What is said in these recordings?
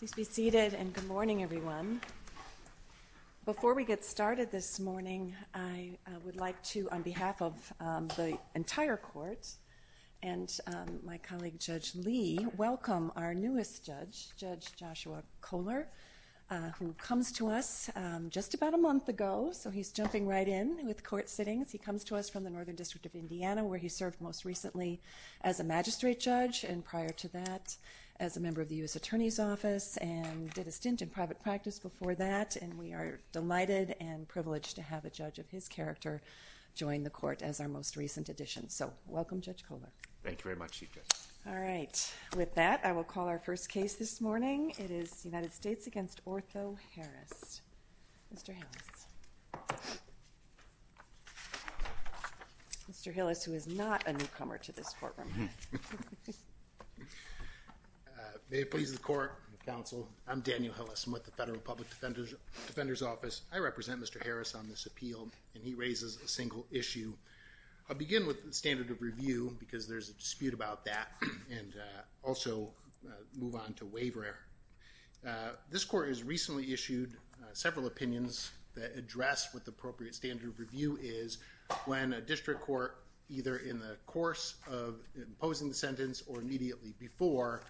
Please be seated and good morning everyone. Before we get started this morning I would like to on behalf of the entire court and my colleague Judge Lee welcome our newest judge, Judge Joshua Kohler, who comes to us just about a month ago. So he's jumping right in with court sittings. He comes to us from the Northern District of Indiana where he served most recently as a magistrate judge and prior to that as a member of the U.S. Attorney's Office and did a stint in private practice before that and we are delighted and privileged to have a judge of his character join the court as our most recent addition. So welcome Judge Kohler. Thank you very much Chief Justice. All right with that I will call our first case this morning. It is United States v. Otho Harris. Mr. Hillis who is not a newcomer to this courtroom. May it please the court, counsel, I'm Daniel Hillis with the Federal Public Defender's Office. I represent Mr. Harris on this appeal and he raises a single issue. I'll begin with the standard of review because there's a dispute about that and also move on to waiver error. This court has recently issued several opinions that address what the course of imposing the sentence or immediately before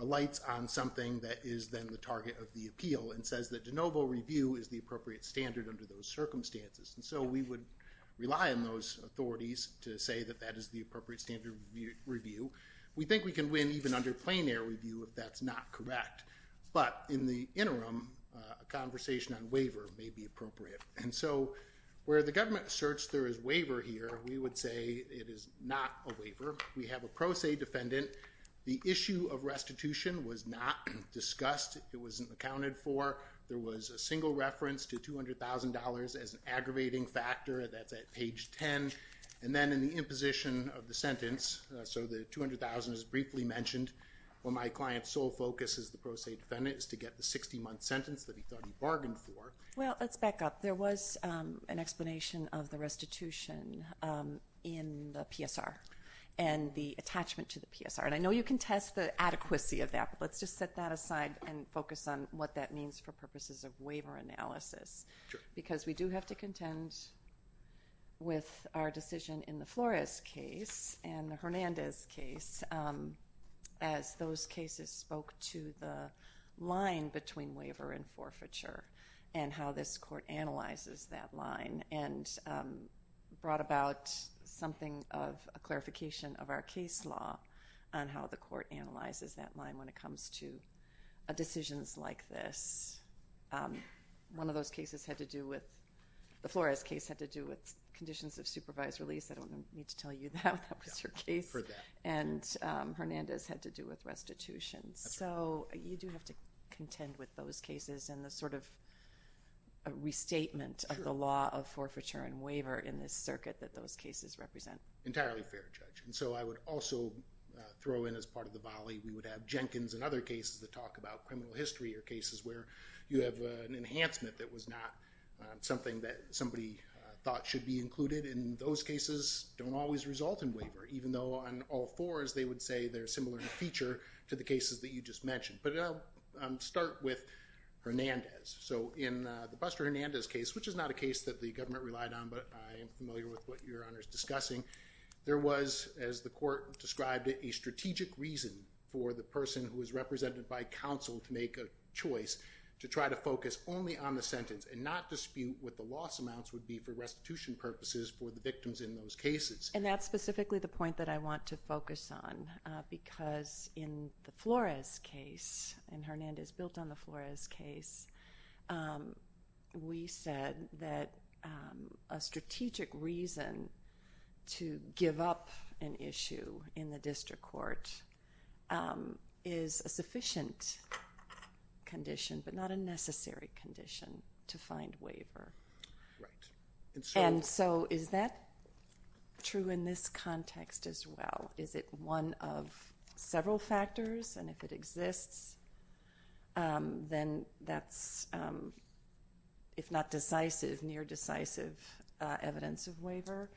alights on something that is then the target of the appeal and says that de novo review is the appropriate standard under those circumstances and so we would rely on those authorities to say that that is the appropriate standard review. We think we can win even under plein air review if that's not correct but in the interim a conversation on waiver may be appropriate and so where the government asserts there is waiver here we would say it is not a waiver. We have a pro se defendant. The issue of restitution was not discussed. It wasn't accounted for. There was a single reference to $200,000 as an aggravating factor that's at page 10 and then in the imposition of the sentence so the $200,000 is briefly mentioned. Well my client's sole focus as the pro se defendant is to get the 60 month sentence that he thought he bargained for. Well let's back up. There was an explanation of the restitution in the PSR and the attachment to the PSR and I know you can test the adequacy of that but let's just set that aside and focus on what that means for purposes of waiver analysis because we do have to contend with our decision in the Flores case and the Hernandez case as those cases spoke to the line between waiver and forfeiture and how this court analyzes that line and brought about something of a clarification of our case law on how the court analyzes that line when it comes to decisions like this. One of those cases had to do with the Flores case had to do with conditions of supervised release. I don't need to tell you that was your case and Hernandez had to do with restitution so you do have to contend with those cases and the sort of restatement of the law of forfeiture and waiver in this circuit that those cases represent. Entirely fair judge and so I would also throw in as part of the volley we would have Jenkins and other cases that talk about criminal history or cases where you have an enhancement that was not something that somebody thought should be included in those cases don't always result in waiver even though on all fours they would say they're similar in feature to the cases that you just mentioned but I'll start with Hernandez. So in the Buster Hernandez case which is not a case that the government relied on but I am familiar with what your honor is discussing there was as the court described it a strategic reason for the person who is represented by counsel to make a choice to try to focus only on the sentence and not dispute what the loss amounts would be for restitution purposes for the victims in those cases. And that's case and Hernandez built on the Flores case we said that a strategic reason to give up an issue in the district court is a sufficient condition but not a necessary condition to find waiver and so is that true in this context as well is it one of several factors and if it exists then that's if not decisive near decisive evidence of waiver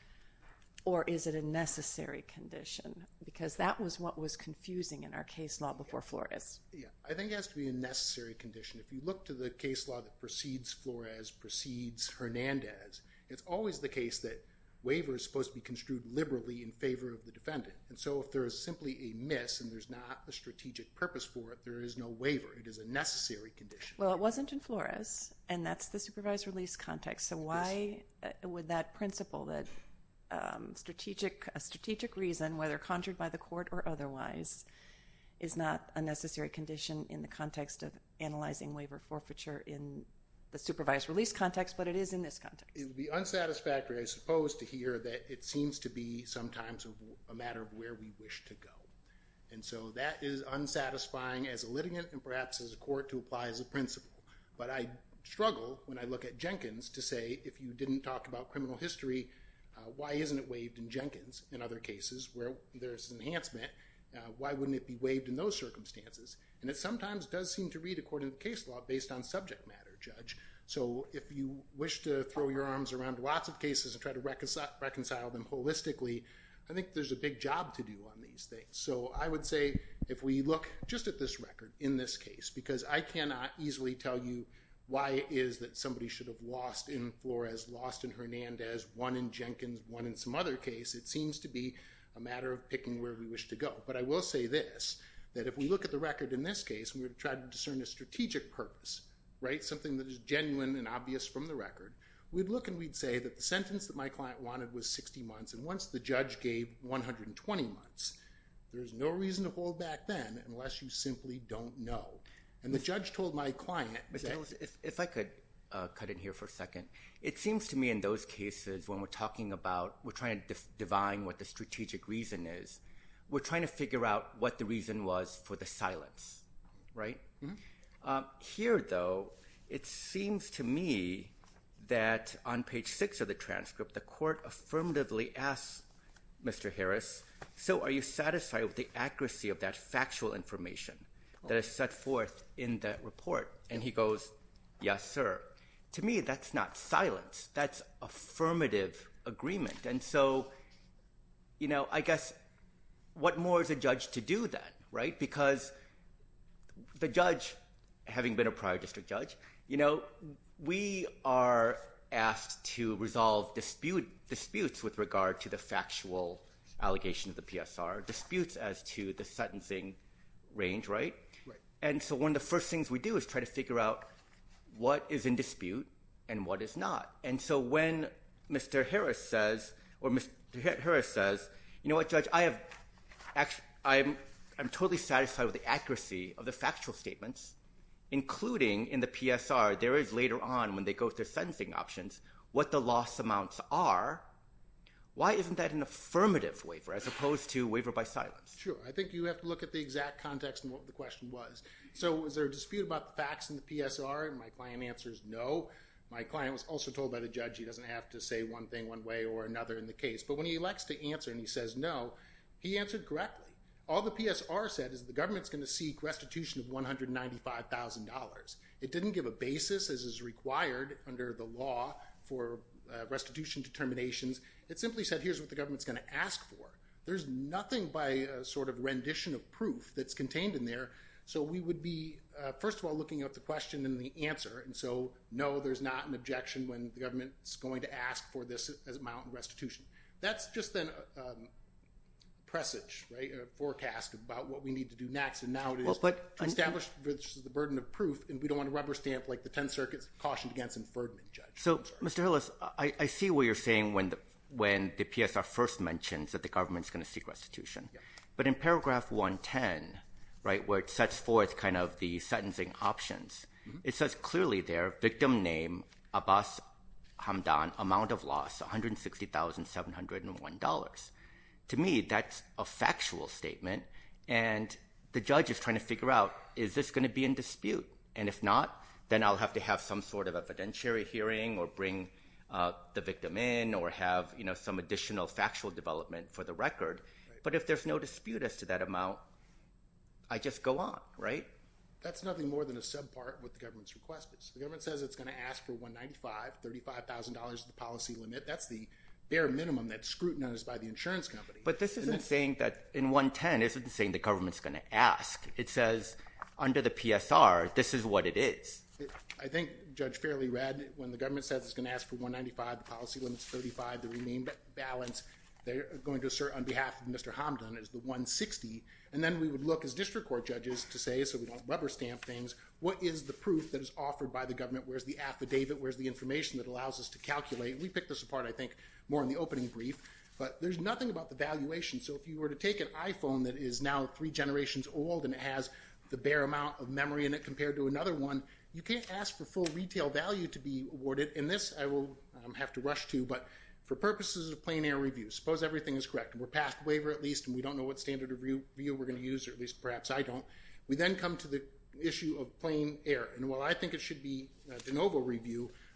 or is it a necessary condition because that was what was confusing in our case law before Flores. Yeah I think it has to be a necessary condition if you look to the case law that precedes Flores precedes Hernandez it's always the case that waiver is supposed to be construed liberally in favor of the defendant and so if there is simply a miss and there's not a strategic purpose for it there is no waiver it is a necessary condition. Well it wasn't in Flores and that's the supervised release context so why would that principle that strategic a strategic reason whether conjured by the court or otherwise is not a necessary condition in the context of analyzing waiver forfeiture in the supervised release context but it is in this It would be unsatisfactory I suppose to hear that it seems to be sometimes a matter of where we wish to go and so that is unsatisfying as a litigant and perhaps as a court to apply as a principle but I struggle when I look at Jenkins to say if you didn't talk about criminal history why isn't it waived in Jenkins in other cases where there's an enhancement why wouldn't it be waived in those circumstances and it sometimes does seem to read according to case law based on subject matter judge so if you wish to throw your arms around lots of cases and try to reconcile them holistically I think there's a big job to do on these things so I would say if we look just at this record in this case because I cannot easily tell you why is that somebody should have lost in Flores lost in Hernandez won in Jenkins won in some other case it seems to be a matter of picking where we wish to go but I will say this that if we look at the record in this case we would try to genuine and obvious from the record we'd look and we'd say that the sentence that my client wanted was 60 months and once the judge gave 120 months there's no reason to hold back then unless you simply don't know and the judge told my client if I could cut in here for a second it seems to me in those cases when we're talking about we're trying to define what the strategic reason is we're trying to figure out what the reason was for the silence right here though it seems to me that on page six of the transcript the court affirmatively asked mr. Harris so are you satisfied with the accuracy of that factual information that is set forth in that report and he goes yes sir to me that's not silence that's affirmative agreement and so you know I guess what more is a judge you know we are asked to resolve dispute disputes with regard to the factual allegation of the PSR disputes as to the sentencing range right and so one of the first things we do is try to figure out what is in dispute and what is not and so when mr. Harris says or mr. Harris says you know what judge I have actually I'm I'm totally satisfied with the accuracy of the factual statements including in the PSR there is later on when they go through sentencing options what the loss amounts are why isn't that an affirmative waiver as opposed to waiver by silence sure I think you have to look at the exact context and what the question was so is there a dispute about the facts in the PSR and my client answers no my client was also told by the judge he doesn't have to say one thing one way or another in the case but when he likes to answer and he says no he answered correctly all the PSR said is the government's going to seek restitution of $195,000 it didn't give a basis as is required under the law for restitution determinations it simply said here's what the government's going to ask for there's nothing by a sort of rendition of proof that's contained in there so we would be first of all looking at the question and the answer and so no there's not an objection when the government is going to ask for this as a mountain restitution that's just then presage forecast about what we need to do next and now but I established the burden of proof and we don't want to rubber stamp like the 10 circuits cautioned against inferred judge so mr. Ellis I see what you're saying when the when the PSR first mentions that the government's going to seek restitution but in paragraph 110 right where it sets forth kind of the sentencing options it says clearly their victim name Abbas Hamdan amount of loss one hundred and sixty thousand seven hundred and one dollars to me that's a factual statement and the judge is trying to figure out is this going to be in dispute and if not then I'll have to have some sort of evidentiary hearing or bring the victim in or have you know some additional factual development for the record but if there's no dispute as to that amount I just go on right that's nothing more than a sub part with the government's request is the government says it's $35,000 the policy limit that's the bare minimum that scrutinized by the insurance company but this isn't saying that in 110 isn't saying the government's going to ask it says under the PSR this is what it is I think judge fairly read when the government says it's going to ask for 195 the policy limits 35 the remaining balance they're going to assert on behalf of mr. Hamdan is the 160 and then we would look as district court judges to say so we don't rubber stamp things what is the proof that is offered by the government where's the affidavit where's the information that allows us to calculate we pick this apart I think more in the opening brief but there's nothing about the valuation so if you were to take an iPhone that is now three generations old and it has the bare amount of memory and it compared to another one you can't ask for full retail value to be awarded in this I will have to rush to but for purposes of plain air review suppose everything is correct and we're past waiver at least and we don't know what standard of review we're going to use or at least perhaps I don't we then come to the issue of plain air and well I think it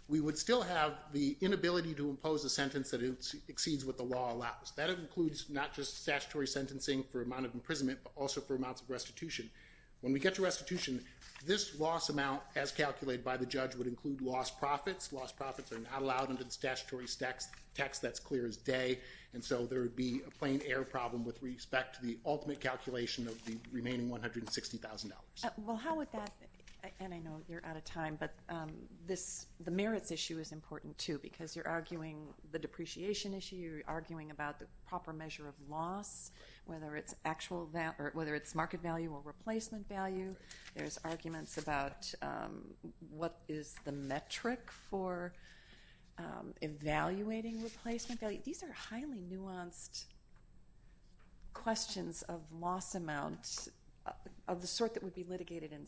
we would still have the inability to impose a sentence that it exceeds what the law allows that includes not just statutory sentencing for amount of imprisonment but also for amounts of restitution when we get to restitution this loss amount as calculated by the judge would include lost profits lost profits are not allowed under the statutory stacks tax that's clear as day and so there would be a plain air problem with respect to the ultimate calculation of the remaining $160,000 well how would that and I know you're out of time but this the merits issue is important too because you're arguing the depreciation issue you're arguing about the proper measure of loss whether it's actual that or whether it's market value or replacement value there's arguments about what is the metric for evaluating replacement value these are highly nuanced questions of loss amount of the sort that would be litigated in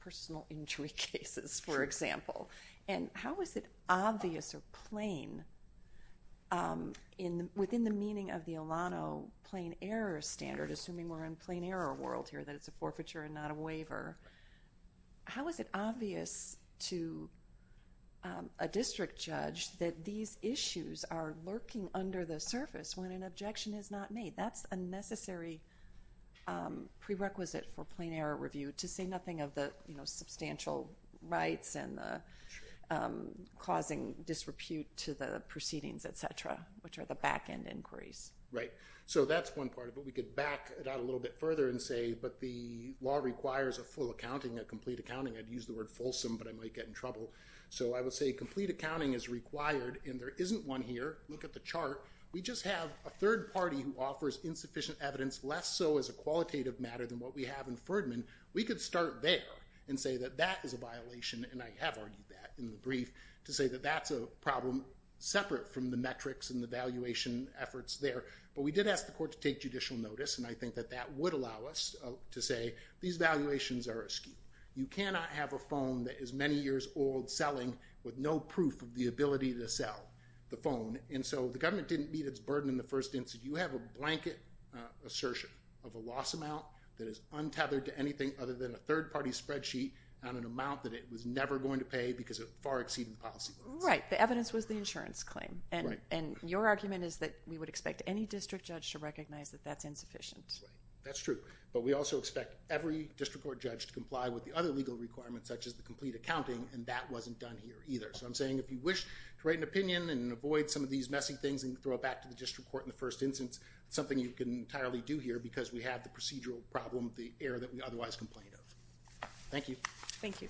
personal injury cases for example and how is it obvious or plain in within the meaning of the Alano plain error standard assuming we're in plain error world here that it's a forfeiture and not a waiver how is it obvious to a district judge that these issues are lurking under the surface when an objection is not made that's a necessary prerequisite for plain error review to say nothing of the you know substantial rights and causing disrepute to the proceedings etc which are the back-end inquiries right so that's one part of what we could back it out a little bit further and say but the law requires a full accounting a complete accounting I'd use the word fulsome but I might get in trouble so I would say complete accounting is required and there isn't one here look at the chart we just have a third party who offers insufficient evidence less so as a qualitative matter than what we have in Ferdman we could start there and say that that is a violation and I have argued that in the brief to say that that's a problem separate from the metrics and the valuation efforts there but we did ask the court to take judicial notice and I think that that would allow us to say these valuations are askew you cannot have a phone that is many years old selling with no proof of the ability to sell the phone and so the government didn't meet its burden in the first instance you have a blanket assertion of a loss amount that is untethered to than a third-party spreadsheet on an amount that it was never going to pay because of far exceeding policy right the evidence was the insurance claim and and your argument is that we would expect any district judge to recognize that that's insufficient that's true but we also expect every district court judge to comply with the other legal requirements such as the complete accounting and that wasn't done here either so I'm saying if you wish to write an opinion and avoid some of these messy things and throw it back to the district court in the first instance something you can entirely do here because we have the procedural problem the air that we otherwise complained of thank you thank you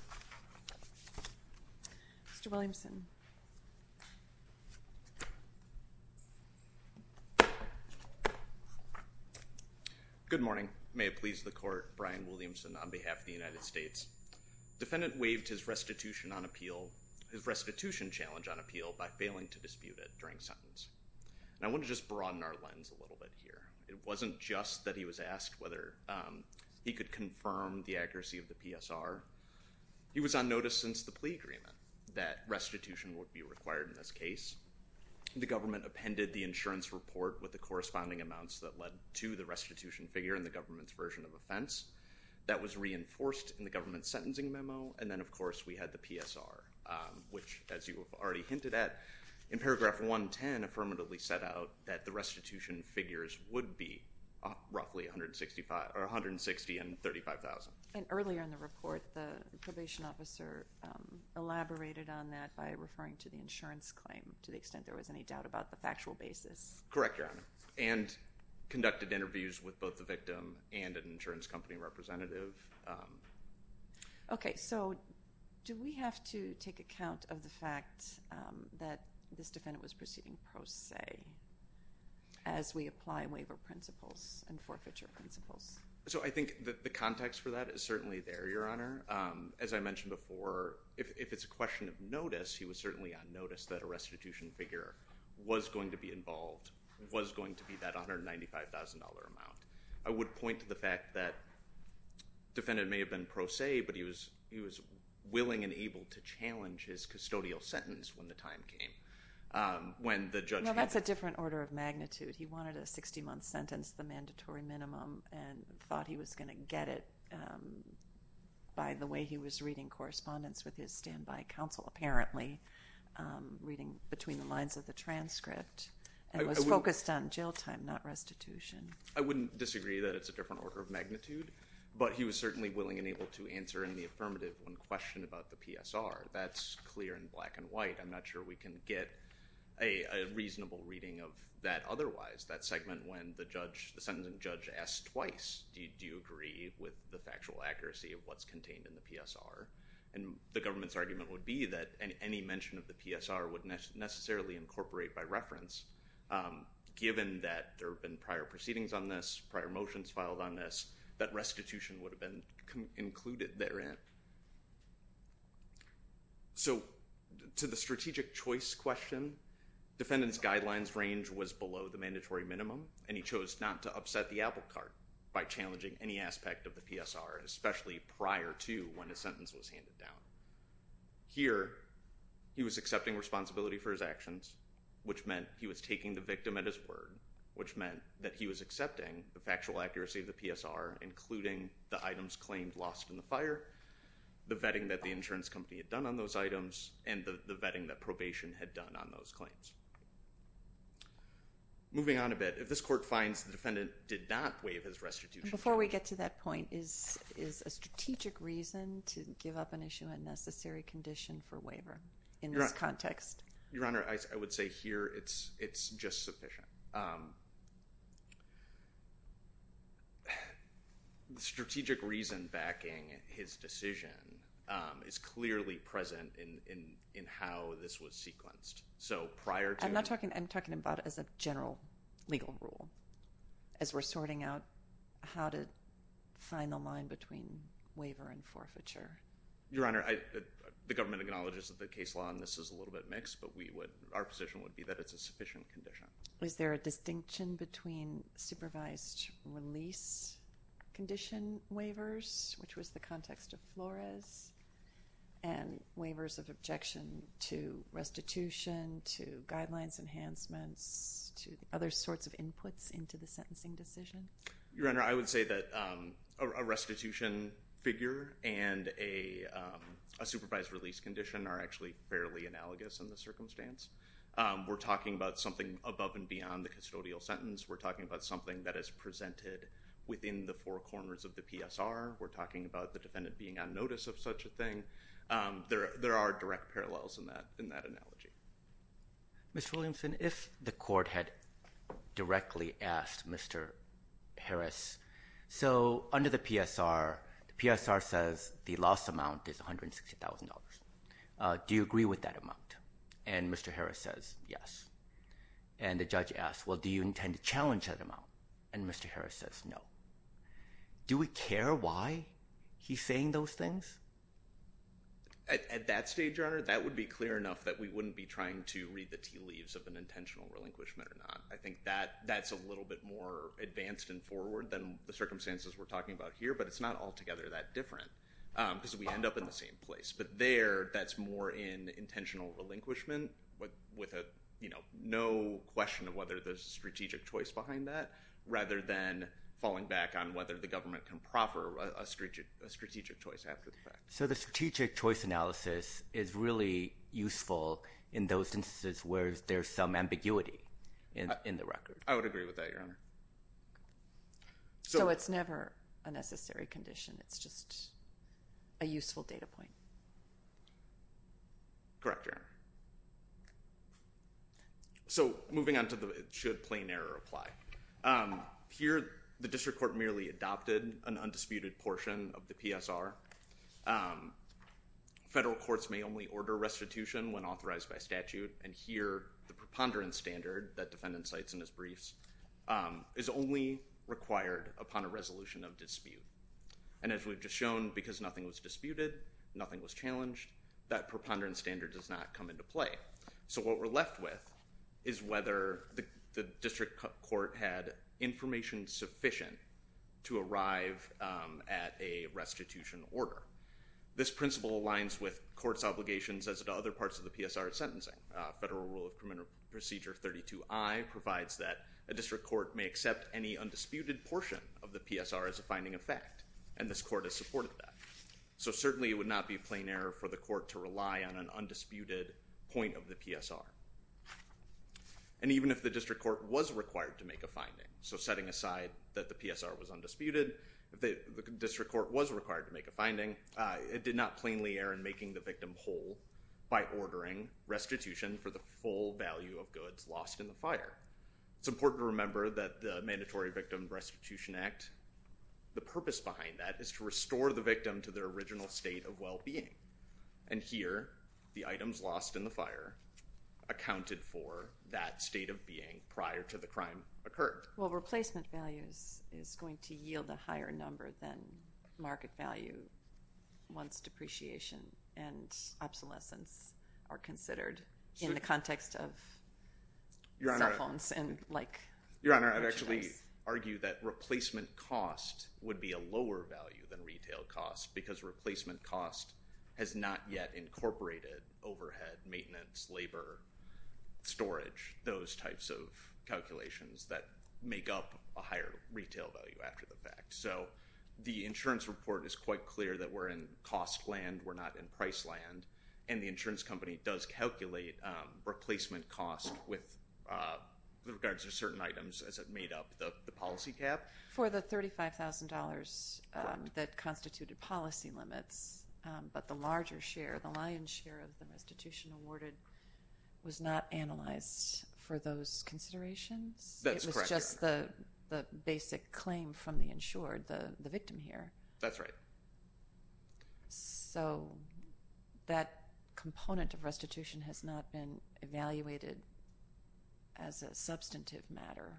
mr. Williamson good morning may it please the court Brian Williamson on behalf of the United States defendant waived his restitution on appeal his restitution challenge on appeal by failing to dispute it during sentence and I want to just broaden our lens a little bit here it wasn't just that he was asked whether he could confirm the accuracy of the PSR he was on notice since the plea agreement that restitution would be required in this case the government appended the insurance report with the corresponding amounts that led to the restitution figure in the government's version of offense that was reinforced in the government sentencing memo and then of course we had the PSR which as you affirmatively set out that the restitution figures would be roughly 165 or 160 and 35,000 and earlier in the report the probation officer elaborated on that by referring to the insurance claim to the extent there was any doubt about the factual basis correct your honor and conducted interviews with both the victim and an insurance company representative okay so do we have to take account of the fact that this defendant was proceeding pro se as we apply waiver principles and forfeiture principles so I think that the context for that is certainly there your honor as I mentioned before if it's a question of notice he was certainly on notice that a restitution figure was going to be involved was going to be that $195,000 amount I would point to the fact that defendant may have been pro se but he was he was willing and able to challenge his custodial sentence when the time came when the judge that's a different order of magnitude he wanted a 60-month sentence the mandatory minimum and thought he was gonna get it by the way he was reading correspondence with his standby counsel apparently reading between the lines of the transcript I was focused on jail time not restitution I wouldn't disagree that it's a different order of magnitude but he was certainly willing and able to answer in the affirmative when questioned about the PSR that's clear in black and white I'm not sure we can get a reasonable reading of that otherwise that segment when the judge the sentencing judge asked twice do you agree with the factual accuracy of what's contained in the PSR and the government's argument would be that any mention of the PSR would necessarily incorporate by reference given that there have been prior proceedings on this prior motions filed on this that restitution would have been included therein so to the strategic choice question defendants guidelines range was below the mandatory minimum and he chose not to upset the applecart by challenging any aspect of the PSR especially prior to when his sentence was handed down here he was accepting responsibility for his actions which meant he was taking the victim at which meant that he was accepting the factual accuracy of the PSR including the items claimed lost in the fire the vetting that the insurance company had done on those items and the vetting that probation had done on those claims moving on a bit if this court finds the defendant did not waive his restitution before we get to that point is is a strategic reason to give up an issue a necessary condition for waiver in this context your honor I would say here it's just sufficient the strategic reason backing his decision is clearly present in in in how this was sequenced so prior to I'm not talking I'm talking about as a general legal rule as we're sorting out how to find the line between waiver and forfeiture your honor I the government acknowledges that the case law and this is a little bit mixed but we would our position would be that it's a sufficient condition is there a distinction between supervised release condition waivers which was the context of Flores and waivers of objection to restitution to guidelines enhancements to other sorts of inputs into the sentencing decision your honor I would say that a restitution figure and a supervised release condition are actually fairly analogous in the something above and beyond the custodial sentence we're talking about something that is presented within the four corners of the PSR we're talking about the defendant being on notice of such a thing there there are direct parallels in that in that analogy miss Williamson if the court had directly asked mr. Harris so under the PSR the PSR says the loss amount is $160,000 do you agree with that amount and mr. Harris says yes and the judge asked well do you intend to challenge that amount and mr. Harris says no do we care why he's saying those things at that stage your honor that would be clear enough that we wouldn't be trying to read the tea leaves of an intentional relinquishment or not I think that that's a little bit more advanced and forward than the circumstances we're talking about here but it's not altogether that different because we end up in the same place but there that's more in intentional relinquishment but with a you know no question of whether there's a strategic choice behind that rather than falling back on whether the government can proffer a strategic a strategic choice after the fact so the strategic choice analysis is really useful in those instances where there's some ambiguity and in the record I would agree with that your honor so it's never a useful data point correct your so moving on to the should plain error apply here the district court merely adopted an undisputed portion of the PSR federal courts may only order restitution when authorized by statute and here the preponderance standard that defendant cites in his briefs is only required upon a resolution of dispute and as we've just shown because nothing was disputed nothing was challenged that preponderance standard does not come into play so what we're left with is whether the district court had information sufficient to arrive at a restitution order this principle aligns with courts obligations as to other parts of the PSR sentencing federal rule of criminal procedure 32 I provides that a district court may accept any undisputed portion of the PSR as a finding of fact and this court has supported that so certainly it would not be plain error for the court to rely on an undisputed point of the PSR and even if the district court was required to make a finding so setting aside that the PSR was undisputed if the district court was required to make a finding it did not plainly err in making the victim whole by ordering restitution for the full value of goods lost in the fire it's important to remember that the Mandatory Victim Restitution Act the purpose behind that is to restore the victim to their original state of well-being and here the items lost in the fire accounted for that state of being prior to the crime occurred well replacement values is going to yield a higher number than market value once depreciation and obsolescence are and like your honor I actually argue that replacement cost would be a lower value than retail costs because replacement cost has not yet incorporated overhead maintenance labor storage those types of calculations that make up a higher retail value after the fact so the insurance report is quite clear that we're in cost land we're not in price land and the certain items as it made up the policy cap for the $35,000 that constituted policy limits but the larger share the lion's share of the restitution awarded was not analyzed for those considerations that's just the the basic claim from the insured the the victim here that's right so that component of evaluated as a substantive matter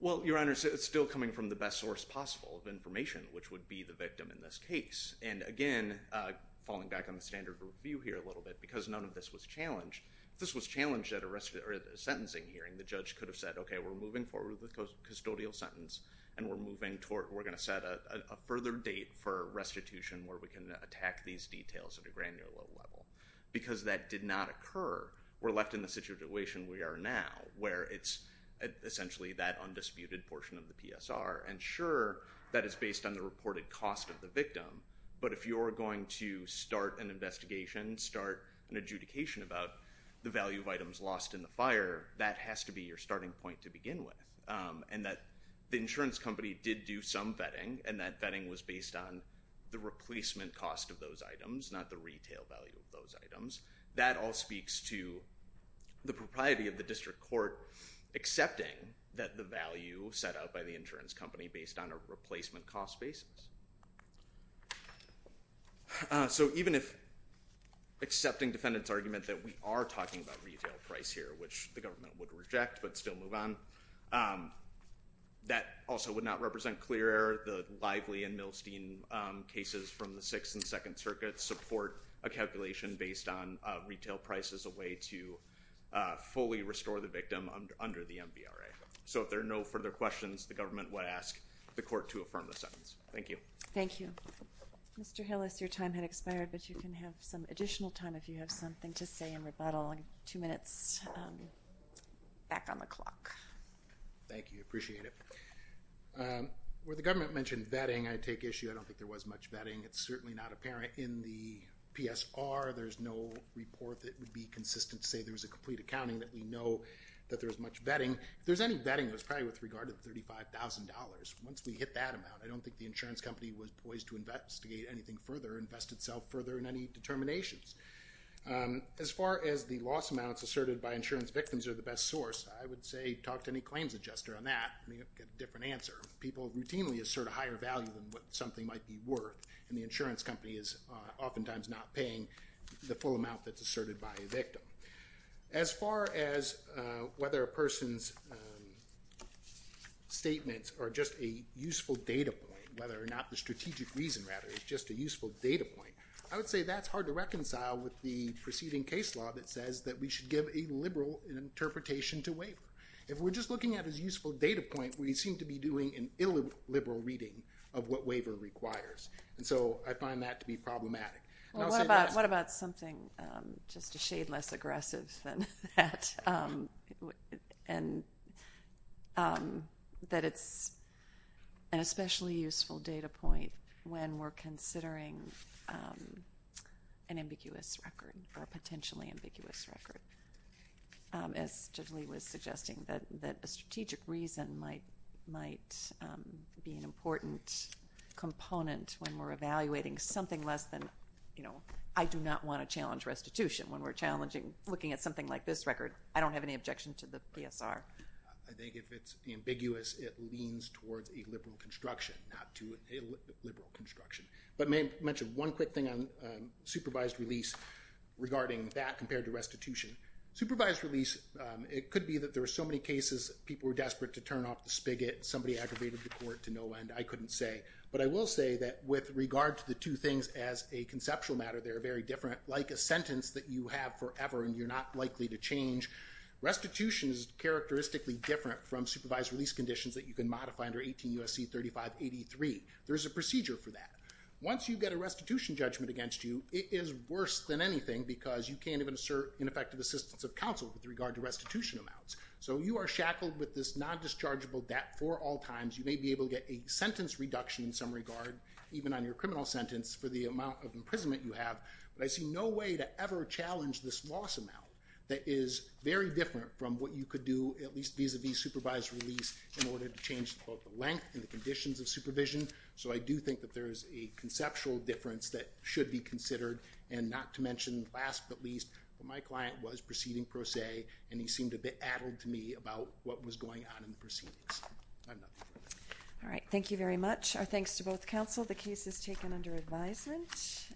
well your honor it's still coming from the best source possible of information which would be the victim in this case and again falling back on the standard review here a little bit because none of this was challenged this was challenged at arrest or the sentencing hearing the judge could have said okay we're moving forward with custodial sentence and we're moving toward we're gonna set a further date for restitution where we can attack these details at a granular level because that did not occur we're left in the situation we are now where it's essentially that undisputed portion of the PSR and sure that is based on the reported cost of the victim but if you're going to start an investigation start an adjudication about the value of items lost in the fire that has to be your starting point to begin with and that the insurance company did do some vetting and that replacement cost of those items not the retail value of those items that all speaks to the propriety of the district court accepting that the value set out by the insurance company based on a replacement cost basis so even if accepting defendants argument that we are talking about retail price here which the government would reject but still move on that also would not from the 6th and 2nd circuits support a calculation based on retail price as a way to fully restore the victim under the MVRA so if there are no further questions the government would ask the court to affirm the sentence thank you thank you mr. Hill is your time had expired but you can have some additional time if you have something to say in rebuttal two minutes back on the clock thank you appreciate it where the government mentioned vetting I take issue I don't think there was much vetting it's certainly not apparent in the PSR there's no report that would be consistent say there's a complete accounting that we know that there's much vetting there's any vetting it was probably with regard to the $35,000 once we hit that amount I don't think the insurance company was poised to investigate anything further invest itself further in any determinations as far as the loss amounts asserted by insurance victims are the best source I would say talk to any claims adjuster on that different answer people routinely assert a higher value than what something might be worth and the insurance company is oftentimes not paying the full amount that's asserted by a victim as far as whether a person's statements are just a useful data point whether or not the strategic reason rather it's just a useful data point I would say that's hard to reconcile with the preceding case law that says that we should give a liberal interpretation to waiver if we're just looking at as useful data point we seem to be doing an illiberal reading of what waiver requires and so I find that to be problematic what about something just a shade less aggressive than that and that it's an especially useful data point when we're considering an ambiguous record or potentially ambiguous record as gently was suggesting that that a be an important component when we're evaluating something less than you know I do not want to challenge restitution when we're challenging looking at something like this record I don't have any objection to the PSR I think if it's ambiguous it leans towards a liberal construction not to a liberal construction but may mention one quick thing on supervised release regarding that compared to restitution supervised release it could be that there are so many cases people were desperate to turn off the spigot somebody aggravated the to no end I couldn't say but I will say that with regard to the two things as a conceptual matter they're very different like a sentence that you have forever and you're not likely to change restitution is characteristically different from supervised release conditions that you can modify under 18 USC 3583 there's a procedure for that once you get a restitution judgment against you it is worse than anything because you can't even assert ineffective assistance of counsel with regard to restitution amounts so you are a sentence reduction in some regard even on your criminal sentence for the amount of imprisonment you have but I see no way to ever challenge this loss amount that is very different from what you could do at least these of these supervised release in order to change the length and the conditions of supervision so I do think that there is a conceptual difference that should be considered and not to mention last but least but my client was proceeding per se and he seemed a bit addled to me about what was going on in the proceedings all right thank you very much our thanks to both counsel the case is taken under advisement